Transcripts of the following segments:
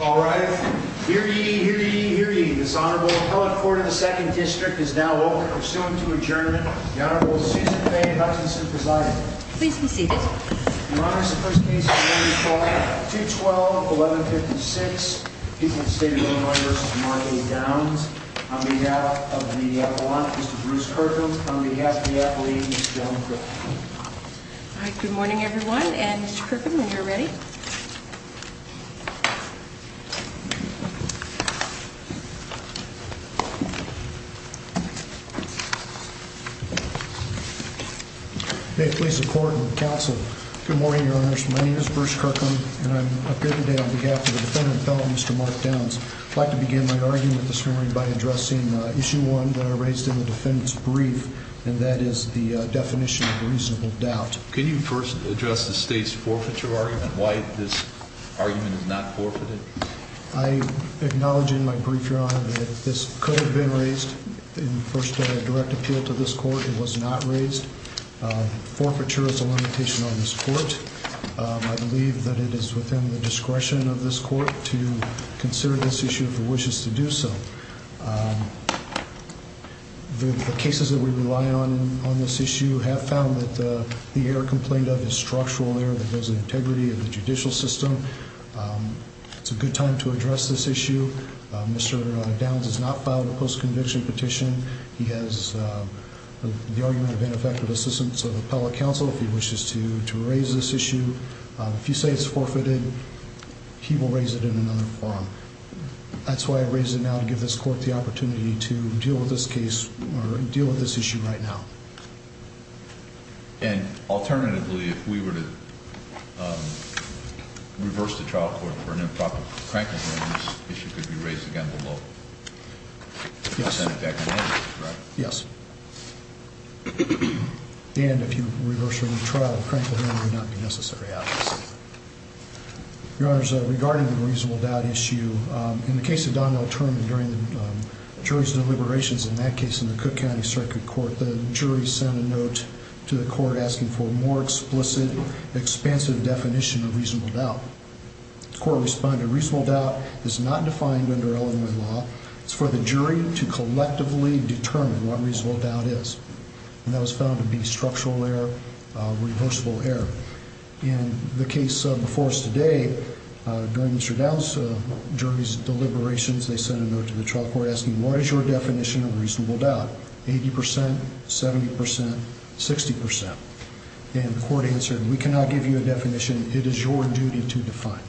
All right. Hear ye, hear ye, hear ye. This honorable Appellate Court of the 2nd District is now open for suing to adjournment. The Honorable Susan Faye Hutchinson presiding. Please be seated. In honor of the first case of the morning's trial, 2-12-11-56, the people of the state of Illinois v. Marley Downs. On behalf of the appellant, Mr. Bruce Kirkland. On behalf of the athlete, Ms. Joan Kripke. Good morning everyone and Mr. Kirkland, when you're ready. May it please the court and the counsel. Good morning, your honors. My name is Bruce Kirkland and I'm here today on behalf of the defendant, Mr. Mark Downs. I'd like to begin my argument this morning by addressing Issue 1 that I raised in the defendant's brief and that is the definition of reasonable doubt. Can you first address the state's forfeiture argument? Why this argument is not forfeited? I acknowledge in my brief, your honor, that this could have been raised in first direct appeal to this court. It was not raised. Forfeiture is a limitation on this court. I believe that it is within the discretion of this court to consider this issue if it wishes to do so. The cases that we rely on on this issue have found that the error complained of is structural error that goes into integrity of the judicial system. It's a good time to address this issue. Mr. Downs has not filed a post conviction petition. He has the argument of ineffective assistance of the appellate counsel if he wishes to raise this issue. If you say it's forfeited, he will raise it in another forum. That's why I raise it now to give this court the opportunity to deal with this case or deal with this issue right now. And alternatively, if we were to reverse the trial court for an improper cranking, this issue could be raised again below. Yes. Yes. And if you reverse the trial, cranking would not be necessary, obviously. Your Honor, regarding the reasonable doubt issue, in the case of Donnell Terman during the jury's deliberations in that case in the Cook County Circuit Court, the jury sent a note to the court asking for a more explicit, expansive definition of reasonable doubt. The court responded, reasonable doubt is not defined under Illinois law. It's for the jury to collectively determine what reasonable doubt is. And that was found to be structural error, reversible error. In the case before us today, during Mr. Downs' jury's deliberations, they sent a note to the trial court asking, what is your definition of reasonable doubt? 80 percent? 70 percent? 60 percent? And the court answered, we cannot give you a definition. It is your duty to define.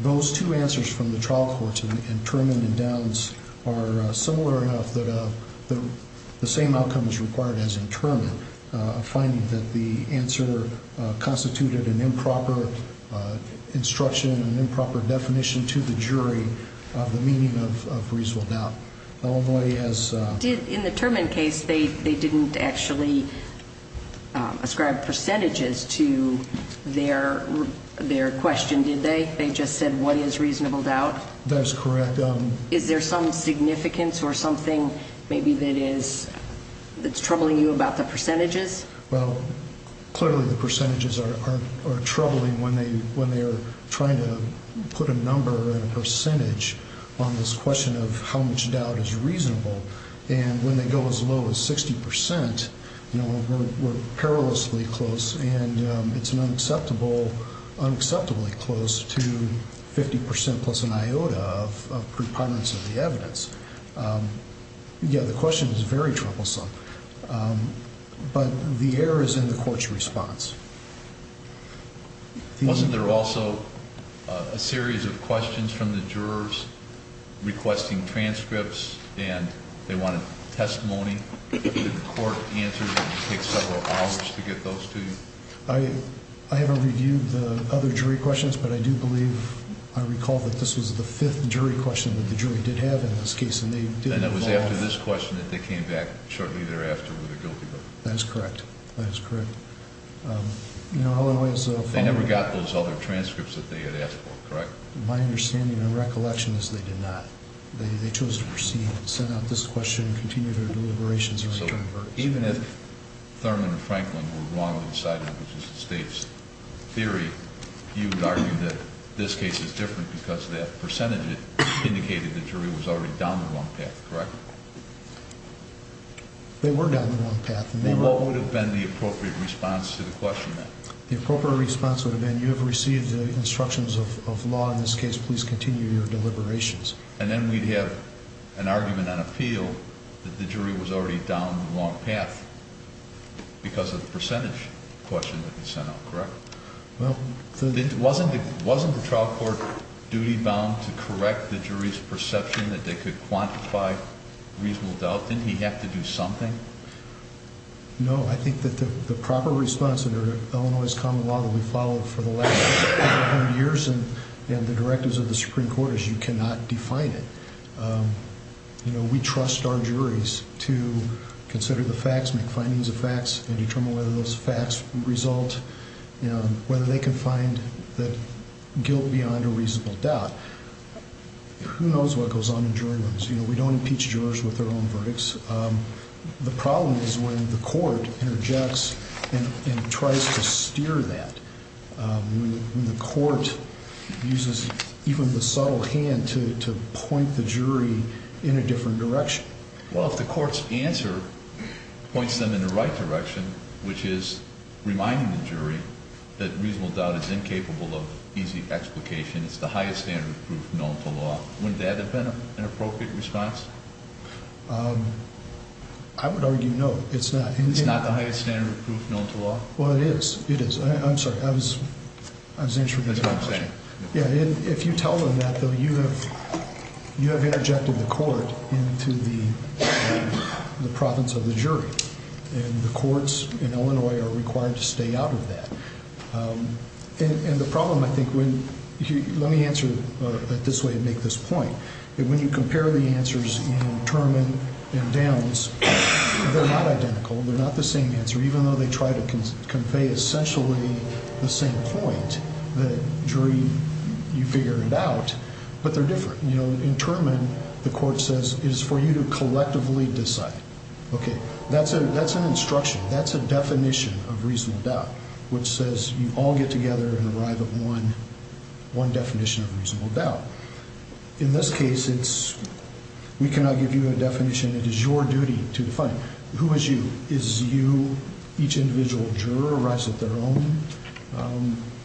Those two answers from the trial courts in Terman and Downs are similar enough that the same outcome is required as in Terman, a finding that the answer constituted an improper instruction, an improper definition to the jury of the meaning of reasonable doubt. Illinois has- In the Terman case, they didn't actually ascribe percentages to their question, did they? They just said, what is reasonable doubt? That is correct. Is there some significance or something maybe that is troubling you about the percentages? Well, clearly the percentages are troubling when they are trying to put a number and a percentage on this question of how much doubt is reasonable. And when they go as low as 60 percent, we're perilously close, and it's an unacceptably close to 50 percent plus an iota of preponderance of the evidence. Yeah, the question is very troublesome. But the error is in the court's response. Wasn't there also a series of questions from the jurors requesting transcripts, and they wanted testimony? Did the court answer that it would take several hours to get those to you? I haven't reviewed the other jury questions, but I do believe I recall that this was the fifth jury question that the jury did have in this case, and they did involve- And it was after this question that they came back shortly thereafter with a guilty vote. That is correct. That is correct. They never got those other transcripts that they had asked for, correct? My understanding and recollection is they did not. They chose to proceed and send out this question and continue their deliberations. So even if Thurman and Franklin were wrong in deciding it was just a state's theory, you would argue that this case is different because that percentage indicated the jury was already down the wrong path, correct? They were down the wrong path. Well, what would have been the appropriate response to the question then? The appropriate response would have been you have received the instructions of law in this case. Please continue your deliberations. And then we'd have an argument on appeal that the jury was already down the wrong path because of the percentage question that they sent out, correct? Well- Wasn't the trial court duty-bound to correct the jury's perception that they could quantify reasonable doubt? Didn't he have to do something? No. I think that the proper response under Illinois' common law that we followed for the last hundred years and the directives of the Supreme Court is you cannot define it. We trust our juries to consider the facts, make findings of facts, and determine whether those facts result, whether they can find the guilt beyond a reasonable doubt. Who knows what goes on in jury rooms? We don't impeach jurors with their own verdicts. The problem is when the court interjects and tries to steer that. When the court uses even the subtle hand to point the jury in a different direction. Well, if the court's answer points them in the right direction, which is reminding the jury that reasonable doubt is incapable of easy explication, it's the highest standard of proof known to law, wouldn't that have been an appropriate response? I would argue no. It's not. Well, it is. It is. I'm sorry. I was interested in that question. If you tell them that, though, you have interjected the court into the province of the jury, and the courts in Illinois are required to stay out of that. And the problem, I think, let me answer it this way and make this point, that when you compare the answers in Terman and Downs, they're not identical. They're not the same answer, even though they try to convey essentially the same point. The jury, you figure it out, but they're different. In Terman, the court says it is for you to collectively decide. Okay, that's an instruction. That's a definition of reasonable doubt, which says you all get together and arrive at one definition of reasonable doubt. In this case, we cannot give you a definition. It is your duty to define it. Who is you? Is you each individual juror arrives at their own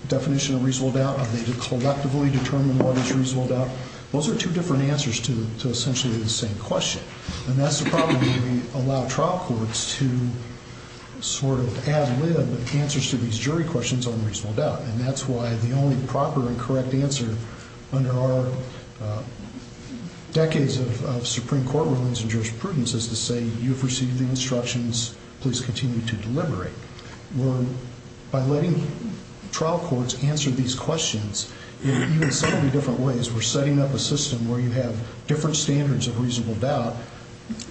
definition of reasonable doubt? Are they to collectively determine what is reasonable doubt? Those are two different answers to essentially the same question. And that's the problem when we allow trial courts to sort of ad lib answers to these jury questions on reasonable doubt. And that's why the only proper and correct answer under our decades of Supreme Court rulings and jurisprudence is to say you've received the instructions, please continue to deliberate. By letting trial courts answer these questions in even slightly different ways, we're setting up a system where you have different standards of reasonable doubt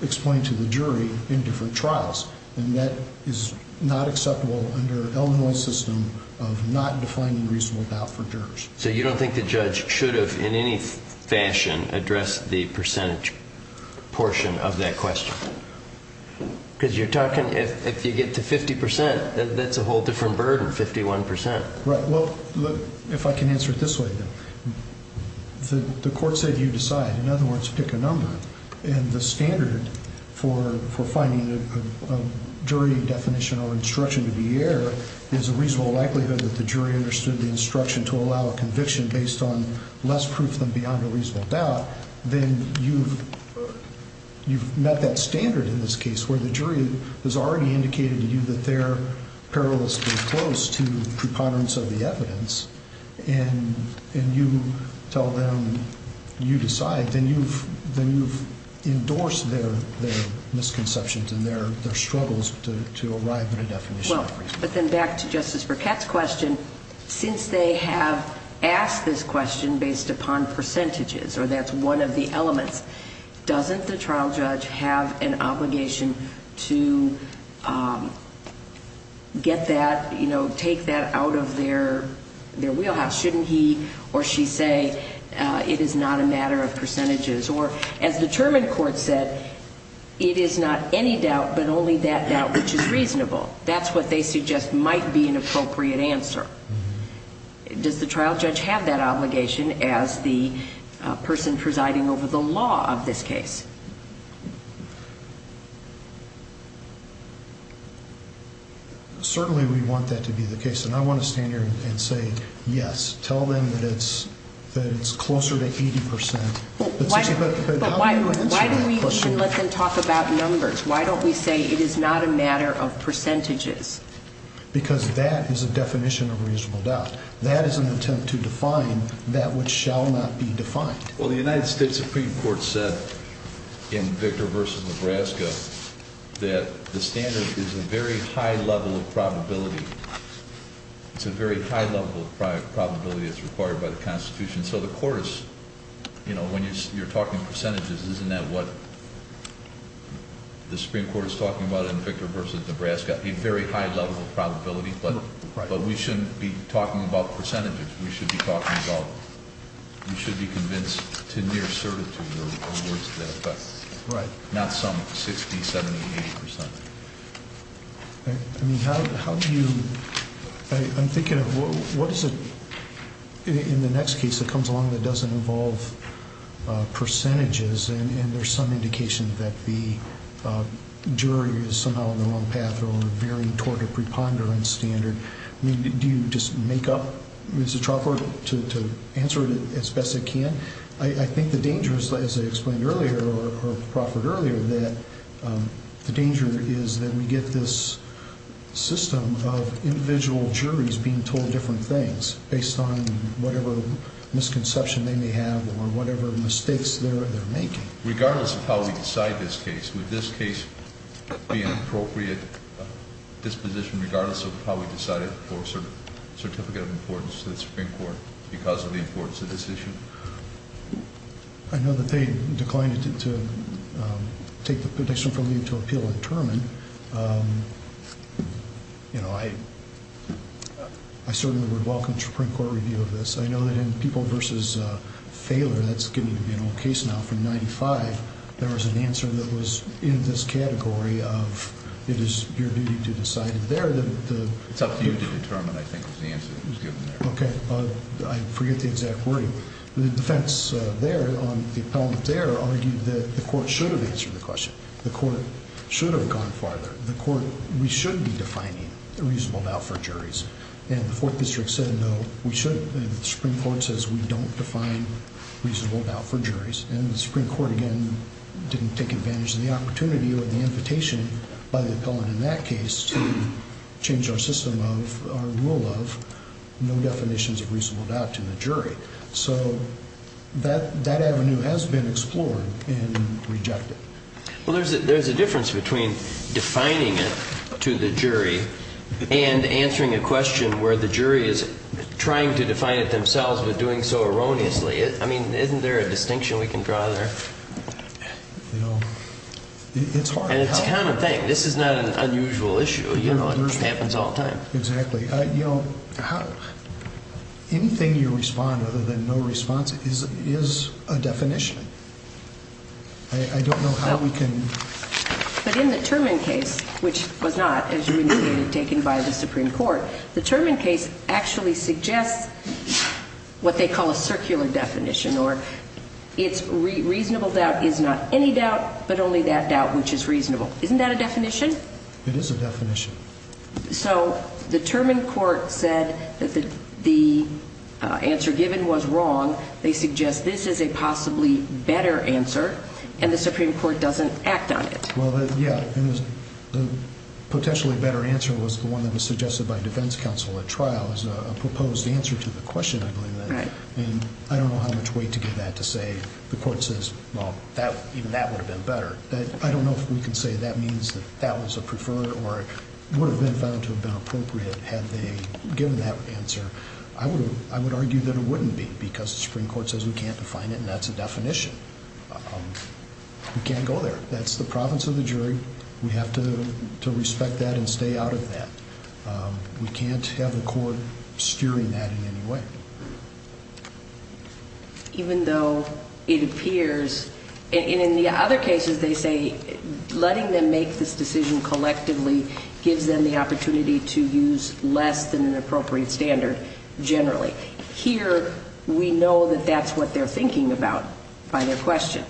explained to the jury in different trials. And that is not acceptable under Illinois' system of not defining reasonable doubt for jurors. So you don't think the judge should have, in any fashion, addressed the percentage portion of that question? Because you're talking, if you get to 50%, that's a whole different burden, 51%. Right. Well, look, if I can answer it this way, the court said you decide. In other words, pick a number. And the standard for finding a jury definition or instruction to be error is a reasonable likelihood that the jury understood the instruction to allow a conviction based on less proof than beyond a reasonable doubt. Then you've met that standard in this case where the jury has already indicated to you that they're perilously close to preponderance of the evidence. And you tell them you decide. Then you've endorsed their misconceptions and their struggles to arrive at a definition. Well, but then back to Justice Burkett's question. Since they have asked this question based upon percentages, or that's one of the elements, doesn't the trial judge have an obligation to get that, you know, take that out of their wheelhouse? Shouldn't he or she say it is not a matter of percentages? Or as the Terman court said, it is not any doubt but only that doubt which is reasonable. That's what they suggest might be an appropriate answer. Does the trial judge have that obligation as the person presiding over the law of this case? Certainly we want that to be the case, and I want to stand here and say yes. Tell them that it's closer to 80%. But why do we even let them talk about numbers? Why don't we say it is not a matter of percentages? Because that is a definition of reasonable doubt. That is an attempt to define that which shall not be defined. Well, the United States Supreme Court said in Victor v. Nebraska that the standard is a very high level of probability. It's a very high level of probability that's required by the Constitution. So the court is, you know, when you're talking percentages, isn't that what the Supreme Court is talking about in Victor v. Nebraska? A very high level of probability, but we shouldn't be talking about percentages. We should be talking about we should be convinced to near certitude in words of that effect. Right. Not some 60, 70, 80%. I mean, how do you—I'm thinking of what is it in the next case that comes along that doesn't involve percentages, and there's some indication that the jury is somehow on the wrong path or very toward a preponderance standard. I mean, do you just make up, Mr. Trautberg, to answer it as best as you can? I think the danger is, as I explained earlier or proffered earlier, that the danger is that we get this system of individual juries being told different things based on whatever misconception they may have or whatever mistakes they're making. Regardless of how we decide this case, would this case be an appropriate disposition regardless of how we decide it for a certificate of importance to the Supreme Court because of the importance of this issue? I know that they declined to take the petition from you to appeal and determine. You know, I certainly would welcome a Supreme Court review of this. I know that in People v. Thaler, that's getting to be an old case now from 1995, there was an answer that was in this category of it is your duty to decide it there. It's up to you to determine, I think, was the answer that was given there. Okay. I forget the exact wording. The defense there on the appellant there argued that the court should have answered the question. The court should have gone farther. The court, we should be defining a reasonable doubt for juries. And the Fourth District said no, we should, and the Supreme Court says we don't define reasonable doubt for juries. And the Supreme Court, again, didn't take advantage of the opportunity or the invitation by the appellant in that case to change our system of rule of no definitions of reasonable doubt to the jury. So that avenue has been explored and rejected. Well, there's a difference between defining it to the jury and answering a question where the jury is trying to define it themselves but doing so erroneously. I mean, isn't there a distinction we can draw there? You know, it's hard. And it's a common thing. This is not an unusual issue. You know, it happens all the time. Exactly. You know, anything you respond other than no response is a definition. I don't know how we can. But in the Turman case, which was not, as you indicated, taken by the Supreme Court, the Turman case actually suggests what they call a circular definition, or it's reasonable doubt is not any doubt but only that doubt which is reasonable. Isn't that a definition? It is a definition. So the Turman court said that the answer given was wrong. They suggest this is a possibly better answer, and the Supreme Court doesn't act on it. Well, yeah, and the potentially better answer was the one that was suggested by defense counsel at trial as a proposed answer to the question, I believe, and I don't know how much weight to give that to say the court says, well, even that would have been better. I don't know if we can say that means that that was a preferred or would have been found to have been appropriate had they given that answer. I would argue that it wouldn't be because the Supreme Court says we can't define it, and that's a definition. We can't go there. That's the province of the jury. We have to respect that and stay out of that. We can't have the court steering that in any way. Even though it appears, and in the other cases they say letting them make this decision collectively gives them the opportunity to use less than an appropriate standard generally. Here we know that that's what they're thinking about by their question.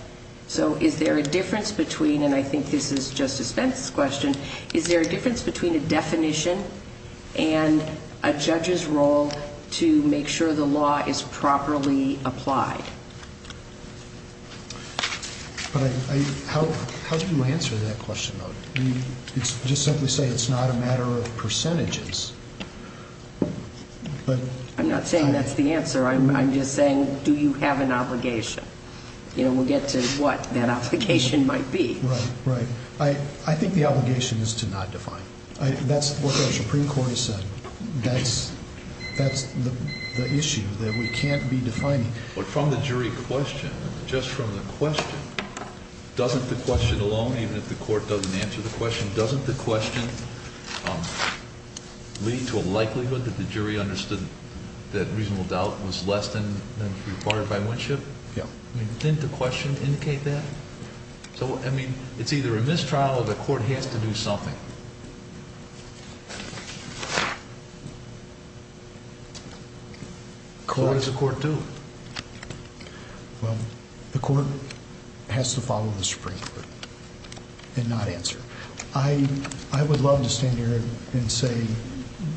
So is there a difference between, and I think this is Justice Fenton's question, is there a difference between a definition and a judge's role to make sure the law is properly applied? How do you answer that question? Just simply say it's not a matter of percentages. I'm not saying that's the answer. I'm just saying do you have an obligation? We'll get to what that obligation might be. Right, right. I think the obligation is to not define. That's what the Supreme Court has said. That's the issue that we can't be defining. But from the jury question, just from the question, doesn't the question alone, even if the court doesn't answer the question, doesn't the question lead to a likelihood that the jury understood that reasonable doubt was less than required by Winship? Yeah. Didn't the question indicate that? So, I mean, it's either a mistrial or the court has to do something. So what does the court do? Well, the court has to follow the Supreme Court and not answer. I would love to stand here and say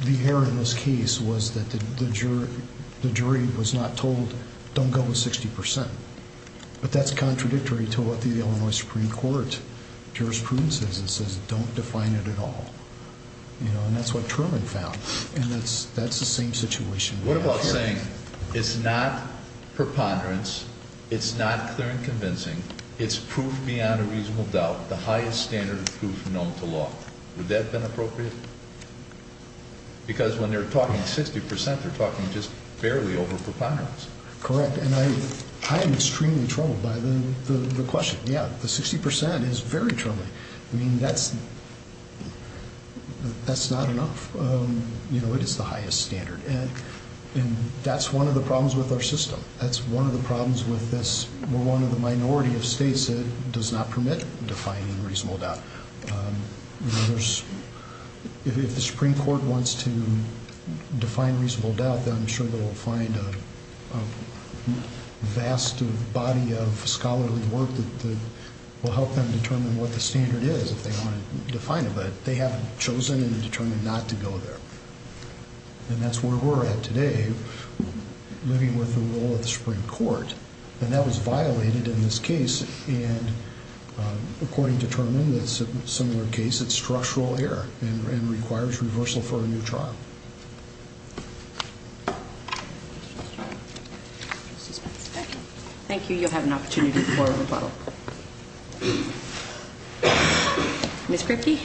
the error in this case was that the jury was not told don't go with 60 percent. But that's contradictory to what the Illinois Supreme Court jurisprudence is. It says don't define it at all. And that's what Truman found. And that's the same situation. What about saying it's not preponderance, it's not clear and convincing, it's proof beyond a reasonable doubt, the highest standard of proof known to law. Would that have been appropriate? Because when they're talking 60 percent, they're talking just barely over preponderance. Correct. And I am extremely troubled by the question. Yeah, the 60 percent is very troubling. I mean, that's not enough. You know, it is the highest standard. And that's one of the problems with our system. That's one of the problems with this. We're one of the minority of states that does not permit defining reasonable doubt. You know, if the Supreme Court wants to define reasonable doubt, then I'm sure they will find a vast body of scholarly work that will help them determine what the standard is if they want to define it. But they haven't chosen and determined not to go there. And that's where we're at today, living with the role of the Supreme Court. And that was violated in this case. And according to Turner, in a similar case, it's structural error and requires reversal for a new trial. Thank you. You'll have an opportunity to pour over a bottle. Ms. Kripke?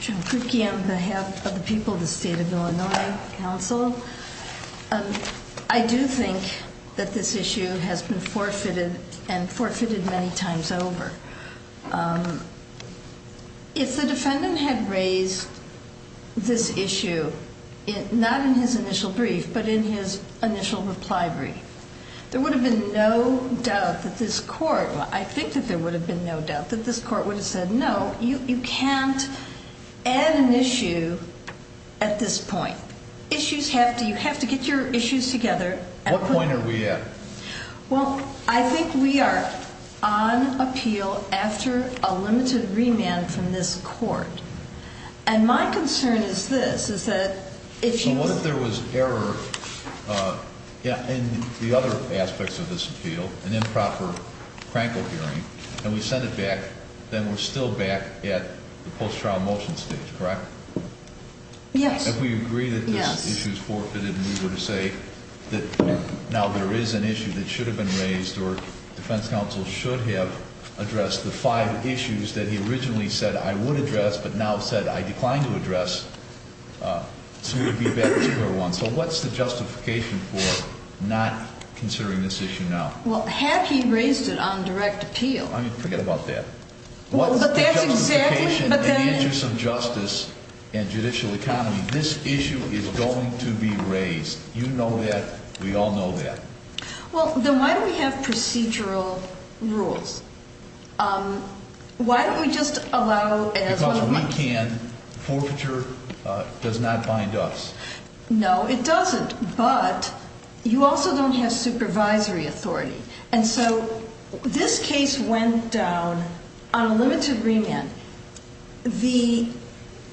Jean Kripke, on behalf of the people of the State of Illinois Council. I do think that this issue has been forfeited and forfeited many times over. If the defendant had raised this issue, not in his initial brief, but in his initial reply brief, there would have been no doubt that this court, I think that there would have been no doubt that this court would have said, no, you can't add an issue at this point. Issues have to, you have to get your issues together. What point are we at? Well, I think we are on appeal after a limited remand from this court. And my concern is this, is that if you... Yeah, and the other aspects of this appeal, an improper crankle hearing, and we send it back, then we're still back at the post-trial motion stage, correct? Yes. If we agree that this issue is forfeited and we were to say that now there is an issue that should have been raised or defense counsel should have addressed the five issues that he originally said I would address but now said I decline to address. So what's the justification for not considering this issue now? Well, Hackey raised it on direct appeal. I mean, forget about that. Well, but that's exactly... What's the justification in the interest of justice and judicial economy? This issue is going to be raised. You know that. We all know that. Well, then why don't we have procedural rules? Why don't we just allow... Forfeiture does not bind us. No, it doesn't. But you also don't have supervisory authority. And so this case went down on a limited remand. The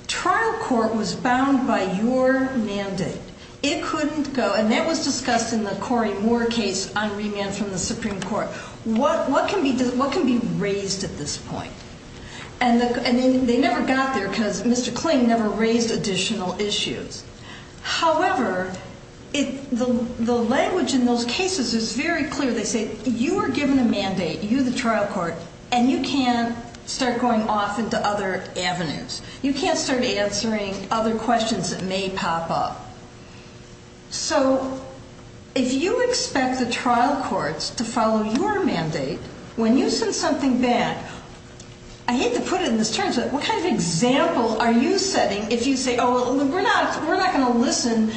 trial court was bound by your mandate. It couldn't go... And that was discussed in the Corey Moore case on remand from the Supreme Court. What can be raised at this point? And they never got there because Mr. Kling never raised additional issues. However, the language in those cases is very clear. They say you are given a mandate, you the trial court, and you can't start going off into other avenues. You can't start answering other questions that may pop up. So if you expect the trial courts to follow your mandate when you send something back, I hate to put it in this term, but what kind of example are you setting if you say, oh, we're not going to listen.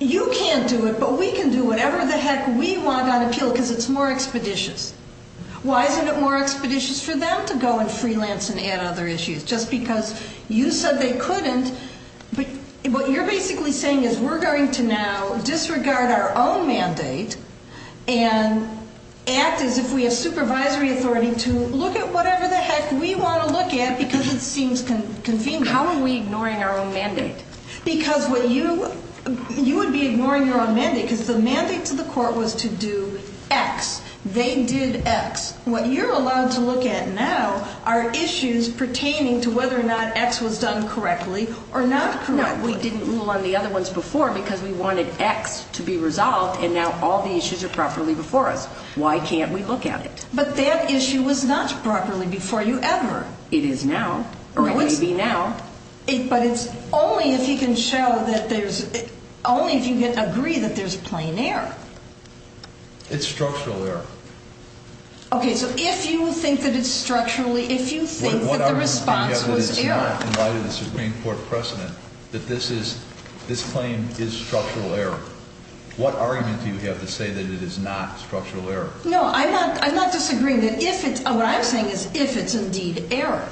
You can't do it, but we can do whatever the heck we want on appeal because it's more expeditious. Why isn't it more expeditious for them to go and freelance and add other issues? Just because you said they couldn't. But what you're basically saying is we're going to now disregard our own mandate and act as if we have supervisory authority to look at whatever the heck we want to look at because it seems convenient. How are we ignoring our own mandate? Because you would be ignoring your own mandate because the mandate to the court was to do X. They did X. What you're allowed to look at now are issues pertaining to whether or not X was done correctly or not correctly. No, we didn't rule on the other ones before because we wanted X to be resolved and now all the issues are properly before us. Why can't we look at it? But that issue was not properly before you ever. It is now, or it may be now. But it's only if you can show that there's, only if you can agree that there's plain error. It's structural error. Okay, so if you think that it's structurally, if you think that the response was error. What argument do you have that it's not in light of the Supreme Court precedent that this claim is structural error? What argument do you have to say that it is not structural error? No, I'm not disagreeing. What I'm saying is if it's indeed error.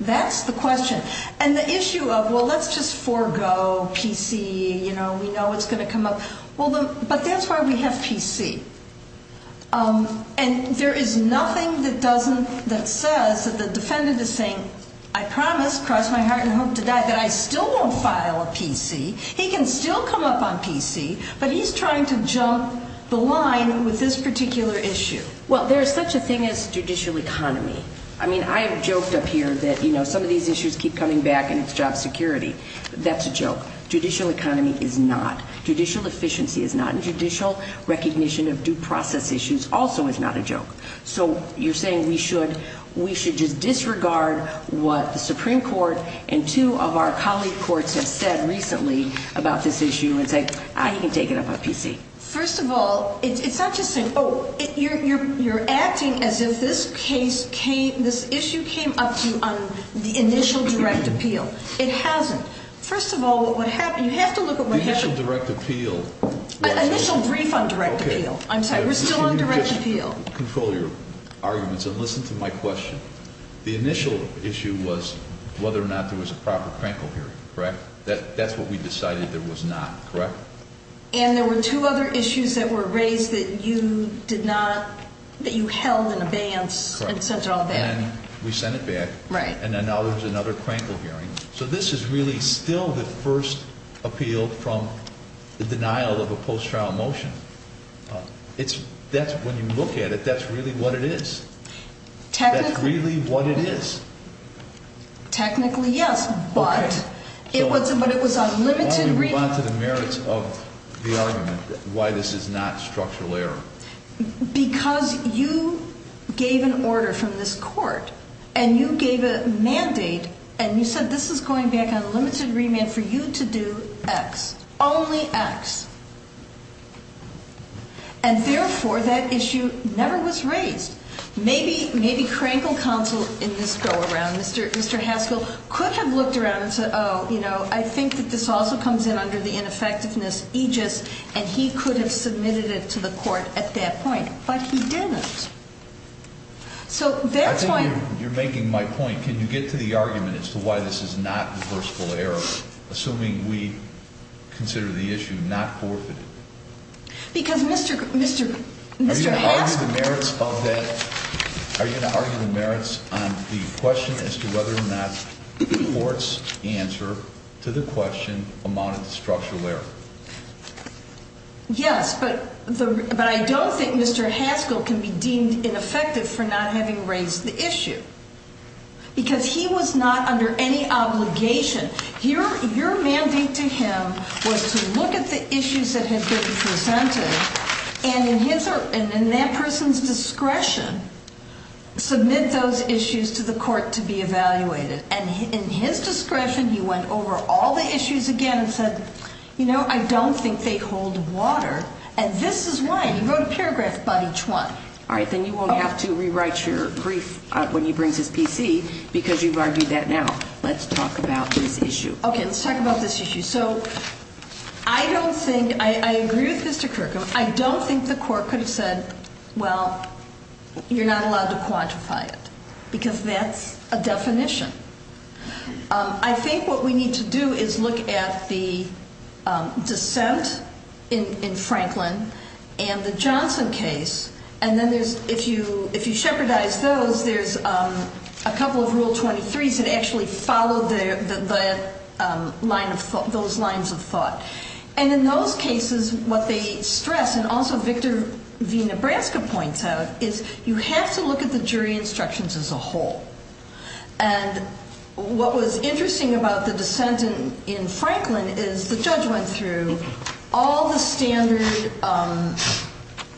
That's the question. And the issue of, well, let's just forego PC, you know, we know it's going to come up. Well, but that's why we have PC. And there is nothing that doesn't, that says that the defendant is saying, I promise, cross my heart and hope to die, that I still won't file a PC. He can still come up on PC, but he's trying to jump the line with this particular issue. Well, there's such a thing as judicial economy. I mean, I have joked up here that, you know, some of these issues keep coming back and it's job security. That's a joke. Judicial economy is not. Judicial efficiency is not. And judicial recognition of due process issues also is not a joke. So you're saying we should just disregard what the Supreme Court and two of our colleague courts have said recently about this issue and say, ah, he can take it up on PC. First of all, it's not just saying, oh, you're acting as if this case came, this issue came up on the initial direct appeal. It hasn't. First of all, what would happen, you have to look at what happened. The initial direct appeal. Initial brief on direct appeal. I'm sorry, we're still on direct appeal. Control your arguments and listen to my question. The initial issue was whether or not there was a proper crankle hearing, correct? That's what we decided there was not, correct? And there were two other issues that were raised that you did not, that you held in abeyance and sent it all back. Correct. And then we sent it back. Right. And then now there's another crankle hearing. So this is really still the first appeal from the denial of a post-trial motion. It's, that's, when you look at it, that's really what it is. Technically. That's really what it is. Technically, yes, but it was, but it was on limited. Let me move on to the merits of the argument, why this is not structural error. Because you gave an order from this court, and you gave a mandate, and you said this is going back on limited remand for you to do X, only X. And therefore, that issue never was raised. Maybe, maybe crankle counsel in this go-around, Mr. Haskell, could have looked around and said, oh, you know, I think that this also comes in under the ineffectiveness aegis, and he could have submitted it to the court at that point. But he didn't. So that's why. I think you're making my point. Can you get to the argument as to why this is not reversible error, assuming we consider the issue not forfeited? Because Mr. Haskell. Are you going to argue the merits on the question as to whether or not the court's answer to the question amounted to structural error? Yes, but I don't think Mr. Haskell can be deemed ineffective for not having raised the issue. Because he was not under any obligation. Your mandate to him was to look at the issues that had been presented, and in that person's discretion, submit those issues to the court to be evaluated. And in his discretion, he went over all the issues again and said, you know, I don't think they hold water, and this is why. He wrote a paragraph about each one. All right, then you won't have to rewrite your brief when he brings his PC, because you've argued that now. Let's talk about this issue. Okay, let's talk about this issue. So I don't think, I agree with Mr. Kirkham, I don't think the court could have said, well, you're not allowed to quantify it. Because that's a definition. I think what we need to do is look at the dissent in Franklin and the Johnson case. And then if you shepherdize those, there's a couple of Rule 23s that actually follow those lines of thought. And in those cases, what they stress, and also Victor V. Nebraska points out, is you have to look at the jury instructions as a whole. And what was interesting about the dissent in Franklin is the judge went through all the standard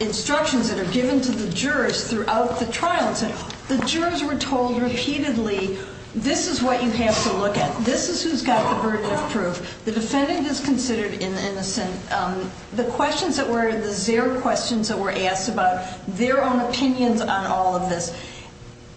instructions that are given to the jurors throughout the trial. The jurors were told repeatedly, this is what you have to look at. This is who's got the burden of proof. The defendant is considered innocent. The questions that were, the zero questions that were asked about their own opinions on all of this.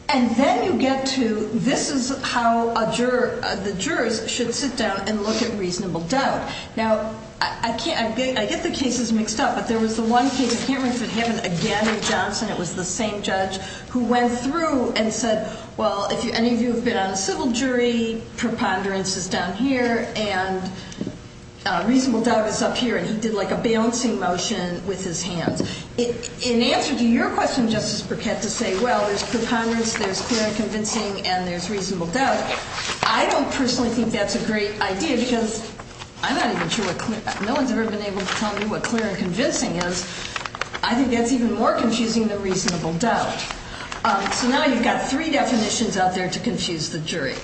And then you get to, this is how the jurors should sit down and look at reasonable doubt. Now, I get the cases mixed up, but there was the one case, I can't remember if it happened again in Johnson, it was the same judge, who went through and said, well, if any of you have been on a civil jury, preponderance is down here, and reasonable doubt is up here. And he did like a balancing motion with his hands. In answer to your question, Justice Burkett, to say, well, there's preponderance, there's clear and convincing, and there's reasonable doubt. I don't personally think that's a great idea because I'm not even sure what clear, no one's ever been able to tell me what clear and convincing is. I think that's even more confusing than reasonable doubt. So now you've got three definitions out there to confuse the jury.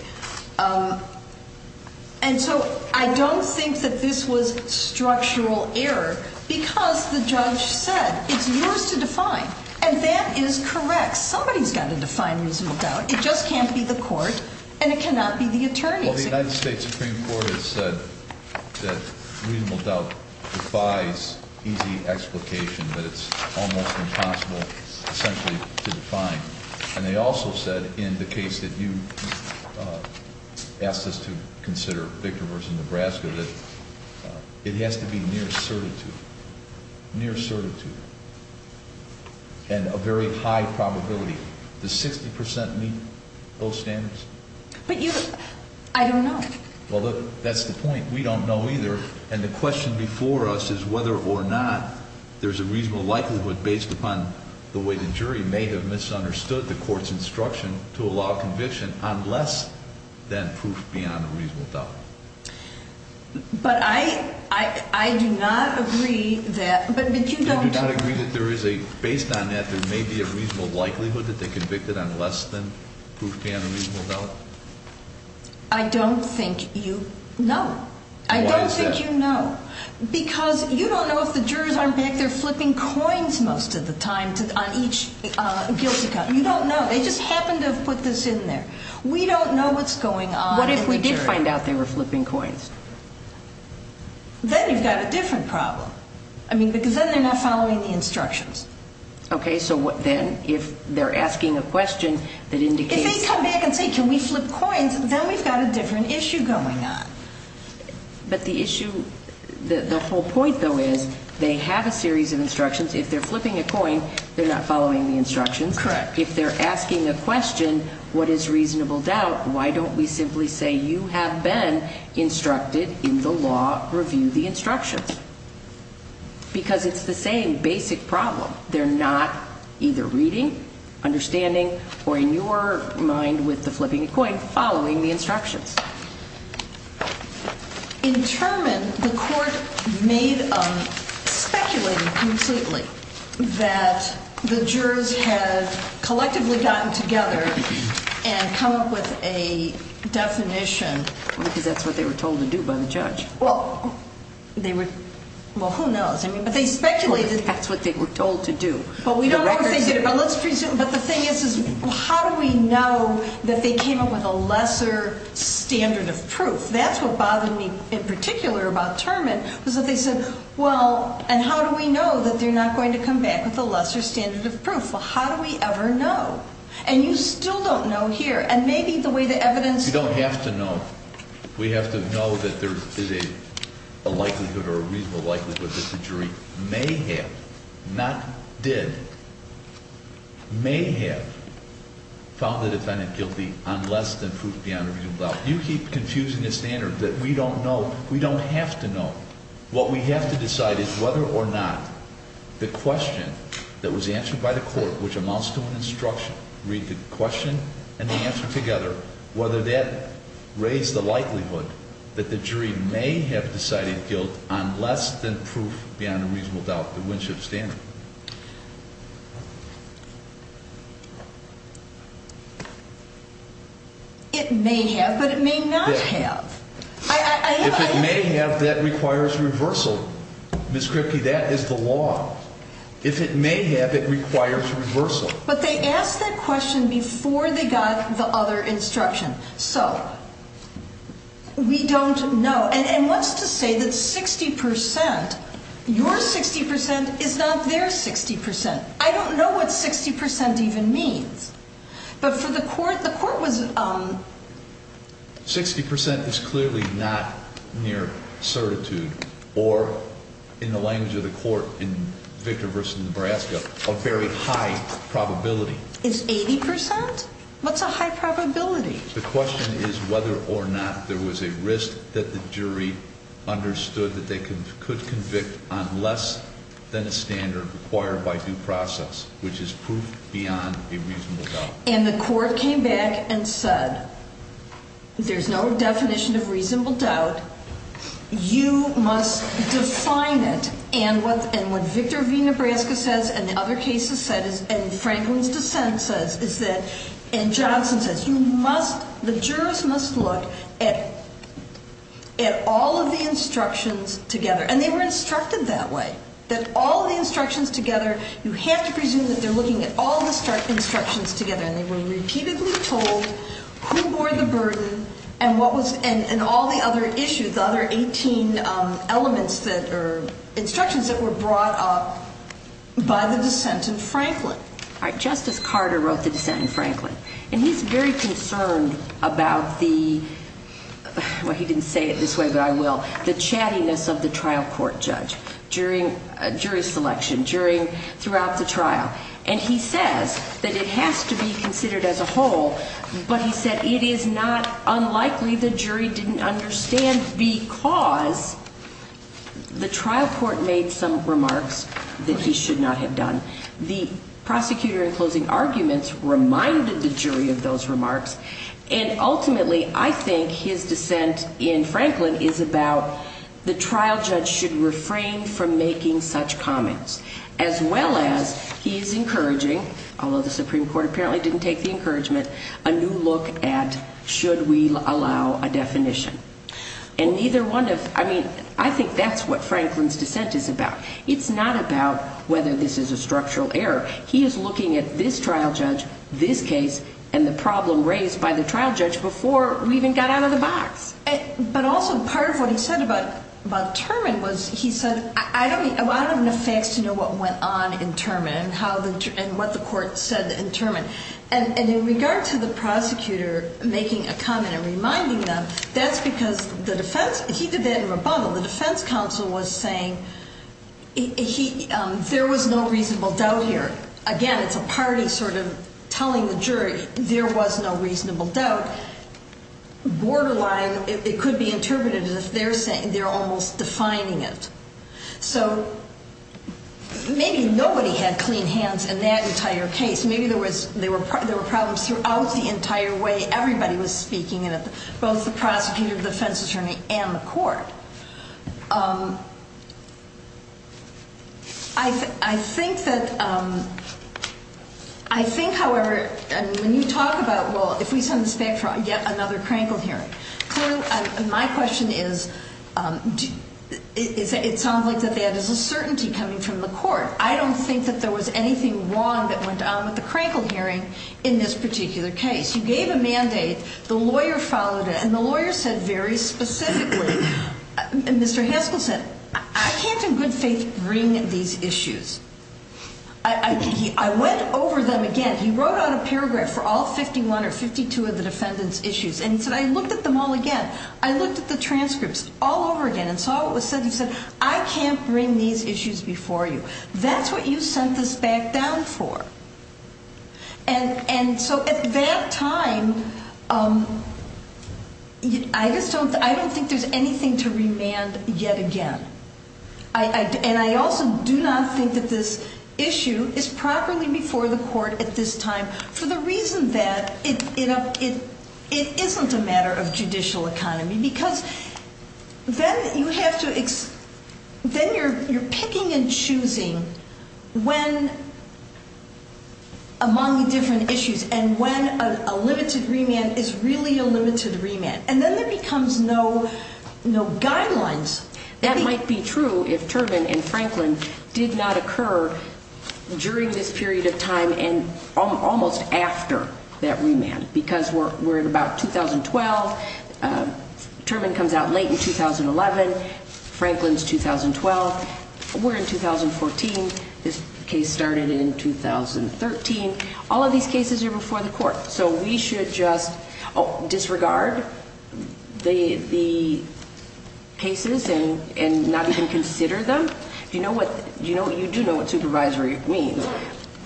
And so I don't think that this was structural error because the judge said, it's yours to define, and that is correct. Somebody's got to define reasonable doubt. It just can't be the court, and it cannot be the attorneys. Well, the United States Supreme Court has said that reasonable doubt defies easy explication, that it's almost impossible, essentially, to define. And they also said in the case that you asked us to consider, Victor v. Nebraska, that it has to be near certitude, near certitude, and a very high probability. Does 60% meet those standards? But you, I don't know. Well, look, that's the point. We don't know either, and the question before us is whether or not there's a reasonable likelihood based upon the way the jury may have misunderstood the court's instruction to allow conviction on less than proof beyond a reasonable doubt. But I do not agree that, but you don't. You do not agree that there is a, based on that, there may be a reasonable likelihood that they convicted on less than proof beyond a reasonable doubt? I don't think you know. Why is that? I don't think you know, because you don't know if the jurors aren't back there flipping coins most of the time on each guilty count. You don't know. They just happen to have put this in there. We don't know what's going on in the jury. What if we did find out they were flipping coins? Then you've got a different problem. I mean, because then they're not following the instructions. Okay, so then if they're asking a question that indicates... If they come back and say, can we flip coins, then we've got a different issue going on. But the issue, the whole point, though, is they have a series of instructions. If they're flipping a coin, they're not following the instructions. Correct. If they're asking a question, what is reasonable doubt, why don't we simply say you have been instructed in the law, review the instructions? Because it's the same basic problem. They're not either reading, understanding, or in your mind with the flipping a coin, following the instructions. In Turman, the court speculated completely that the jurors had collectively gotten together and come up with a definition. Because that's what they were told to do by the judge. Well, they were... Well, who knows? But they speculated... That's what they were told to do. But we don't know if they did it, but let's presume... But the thing is, is how do we know that they came up with a lesser standard of proof? That's what bothered me in particular about Turman, was that they said, well, and how do we know that they're not going to come back with a lesser standard of proof? Well, how do we ever know? And you still don't know here. And maybe the way the evidence... You don't have to know. We have to know that there is a likelihood or a reasonable likelihood that the jury may have, not did, may have found the defendant guilty on less than proof beyond a reasonable doubt. You keep confusing the standard that we don't know. We don't have to know. What we have to decide is whether or not the question that was answered by the court, which amounts to an instruction, read the question and the answer together, whether that raised the likelihood that the jury may have decided guilt on less than proof beyond a reasonable doubt, the Winship standard. It may have, but it may not have. If it may have, that requires reversal. Ms. Kripke, that is the law. If it may have, it requires reversal. But they asked that question before they got the other instruction. So we don't know. And what's to say that 60%, your 60% is not their 60%? I don't know what 60% even means. But for the court, the court was... 60% is clearly not near certitude or, in the language of the court in Victor v. Nebraska, a very high probability. It's 80%? What's a high probability? The question is whether or not there was a risk that the jury understood that they could convict on less than a standard required by due process, which is proof beyond a reasonable doubt. And the court came back and said, there's no definition of reasonable doubt. You must define it. And what Victor v. Nebraska says and the other cases said and Franklin's dissent says is that, and Johnson says, you must, the jurors must look at all of the instructions together. And they were instructed that way, that all the instructions together, you have to presume that they're looking at all the instructions together. And they were repeatedly told who bore the burden and what was, and all the other issues, the other 18 elements that, or instructions that were brought up by the dissent in Franklin. All right, Justice Carter wrote the dissent in Franklin. And he's very concerned about the, well, he didn't say it this way, but I will, the chattiness of the trial court judge during jury selection, during, throughout the trial. And he says that it has to be considered as a whole, but he said it is not unlikely the jury didn't understand because the trial court made some remarks that he should not have done. The prosecutor in closing arguments reminded the jury of those remarks. And ultimately, I think his dissent in Franklin is about the trial judge should refrain from making such comments. As well as he's encouraging, although the Supreme Court apparently didn't take the encouragement, a new look at should we allow a definition. And neither one of, I mean, I think that's what Franklin's dissent is about. It's not about whether this is a structural error. He is looking at this trial judge, this case, and the problem raised by the trial judge before we even got out of the box. But also part of what he said about, about Turman was he said, I don't, I don't have enough facts to know what went on in Turman and how the, and what the court said in Turman. And in regard to the prosecutor making a comment and reminding them, that's because the defense, he did that in rebuttal. The defense counsel was saying he, there was no reasonable doubt here. Again, it's a party sort of telling the jury there was no reasonable doubt. Borderline, it could be interpreted as if they're saying, they're almost defining it. So maybe nobody had clean hands in that entire case. Maybe there was, there were problems throughout the entire way everybody was speaking in it, both the prosecutor, defense attorney, and the court. I think that, I think, however, and when you talk about, well, if we send this back for yet another crankled hearing. Clearly, my question is, it sounds like that there is a certainty coming from the court. I don't think that there was anything wrong that went on with the crankled hearing in this particular case. You gave a mandate. The lawyer followed it. And the lawyer said very specifically, Mr. Haskell said, I can't in good faith bring these issues. I went over them again. He wrote out a paragraph for all 51 or 52 of the defendant's issues. And he said, I looked at them all again. I looked at the transcripts all over again and saw what was said. He said, I can't bring these issues before you. That's what you sent this back down for. And so at that time, I just don't, I don't think there's anything to remand yet again. And I also do not think that this issue is properly before the court at this time for the reason that it isn't a matter of judicial economy. Because then you have to, then you're picking and choosing when among the different issues and when a limited remand is really a limited remand. And then there becomes no guidelines. That might be true if Terman and Franklin did not occur during this period of time and almost after that remand. Because we're at about 2012. Terman comes out late in 2011. Franklin's 2012. We're in 2014. This case started in 2013. All of these cases are before the court. So we should just disregard the cases and not even consider them. You know what, you do know what supervisory means.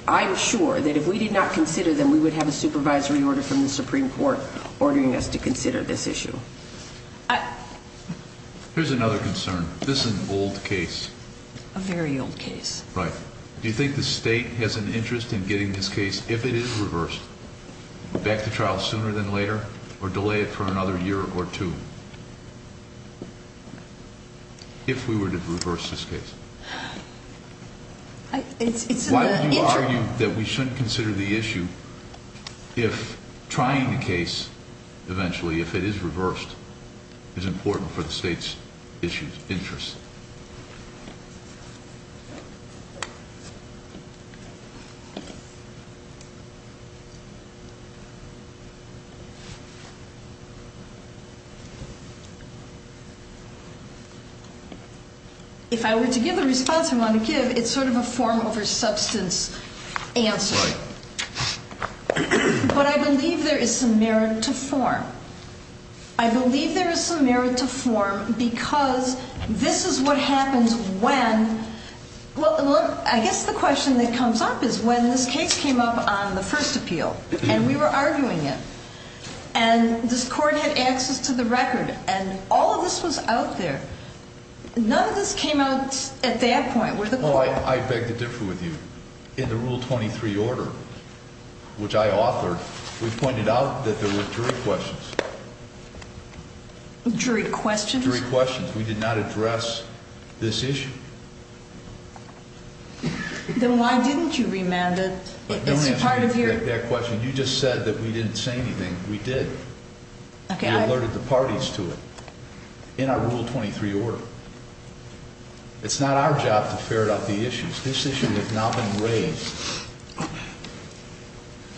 I'm sure that if we did not consider them, we would have a supervisory order from the Supreme Court ordering us to consider this issue. Here's another concern. This is an old case. A very old case. Right. Do you think the state has an interest in getting this case, if it is reversed, back to trial sooner than later or delay it for another year or two? If we were to reverse this case. It's in the interim. Why would you argue that we shouldn't consider the issue if trying the case eventually, if it is reversed, is important for the state's interest? If I were to give the response I want to give, it's sort of a form over substance answer. But I believe there is some merit to form. I believe there is some merit to form because this is what happens when, well, I guess the question that comes up is when this case came up on the first appeal. And we were arguing it. And this court had access to the record. And all of this was out there. None of this came out at that point with the court. I beg to differ with you. In the Rule 23 order, which I authored, we pointed out that there were jury questions. Jury questions? Jury questions. We did not address this issue. Then why didn't you remand it? But don't ask me that question. You just said that we didn't say anything. We did. We alerted the parties to it in our Rule 23 order. It's not our job to ferret out the issues. This issue has not been raised.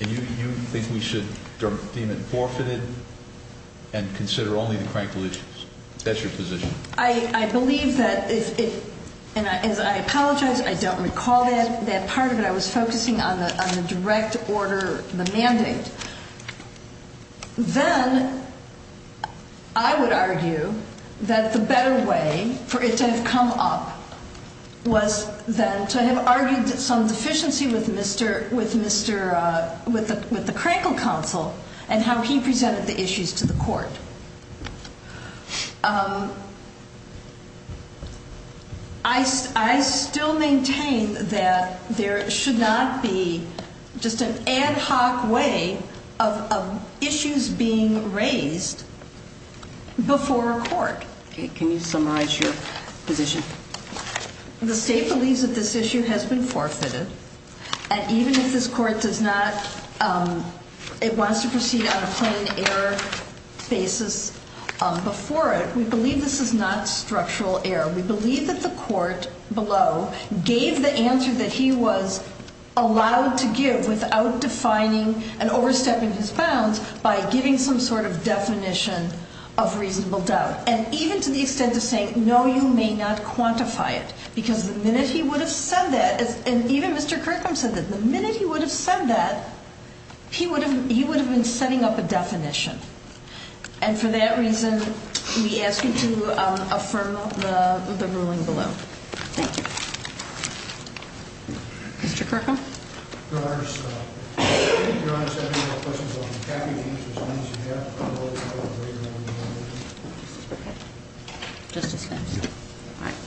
And you think we should deem it forfeited and consider only the cranky issues. That's your position. I believe that if it – and I apologize, I don't recall that part of it. I was focusing on the direct order, the mandate. Then I would argue that the better way for it to have come up was then to have argued some deficiency with Mr. – with the Crankle counsel and how he presented the issues to the court. I still maintain that there should not be just an ad hoc way of issues being raised before a court. Can you summarize your position? The state believes that this issue has been forfeited. And even if this court does not – it wants to proceed on a plain error basis before it, we believe this is not structural error. We believe that the court below gave the answer that he was allowed to give without defining and overstepping his bounds by giving some sort of definition of reasonable doubt. And even to the extent of saying, no, you may not quantify it. Because the minute he would have said that, and even Mr. Kirkham said that, the minute he would have said that, he would have been setting up a definition. And for that reason, we ask you to affirm the ruling below. Thank you. Mr. Kirkham? Your Honor, your Honor, I just have a couple of questions. I'll be happy to answer as many as you have. Just as fast?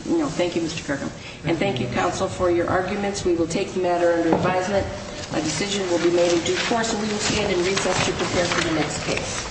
Yeah. Thank you, Mr. Kirkham. And thank you, counsel, for your arguments. We will take the matter under advisement. A decision will be made in due course, and we will stand in recess to prepare for the next case.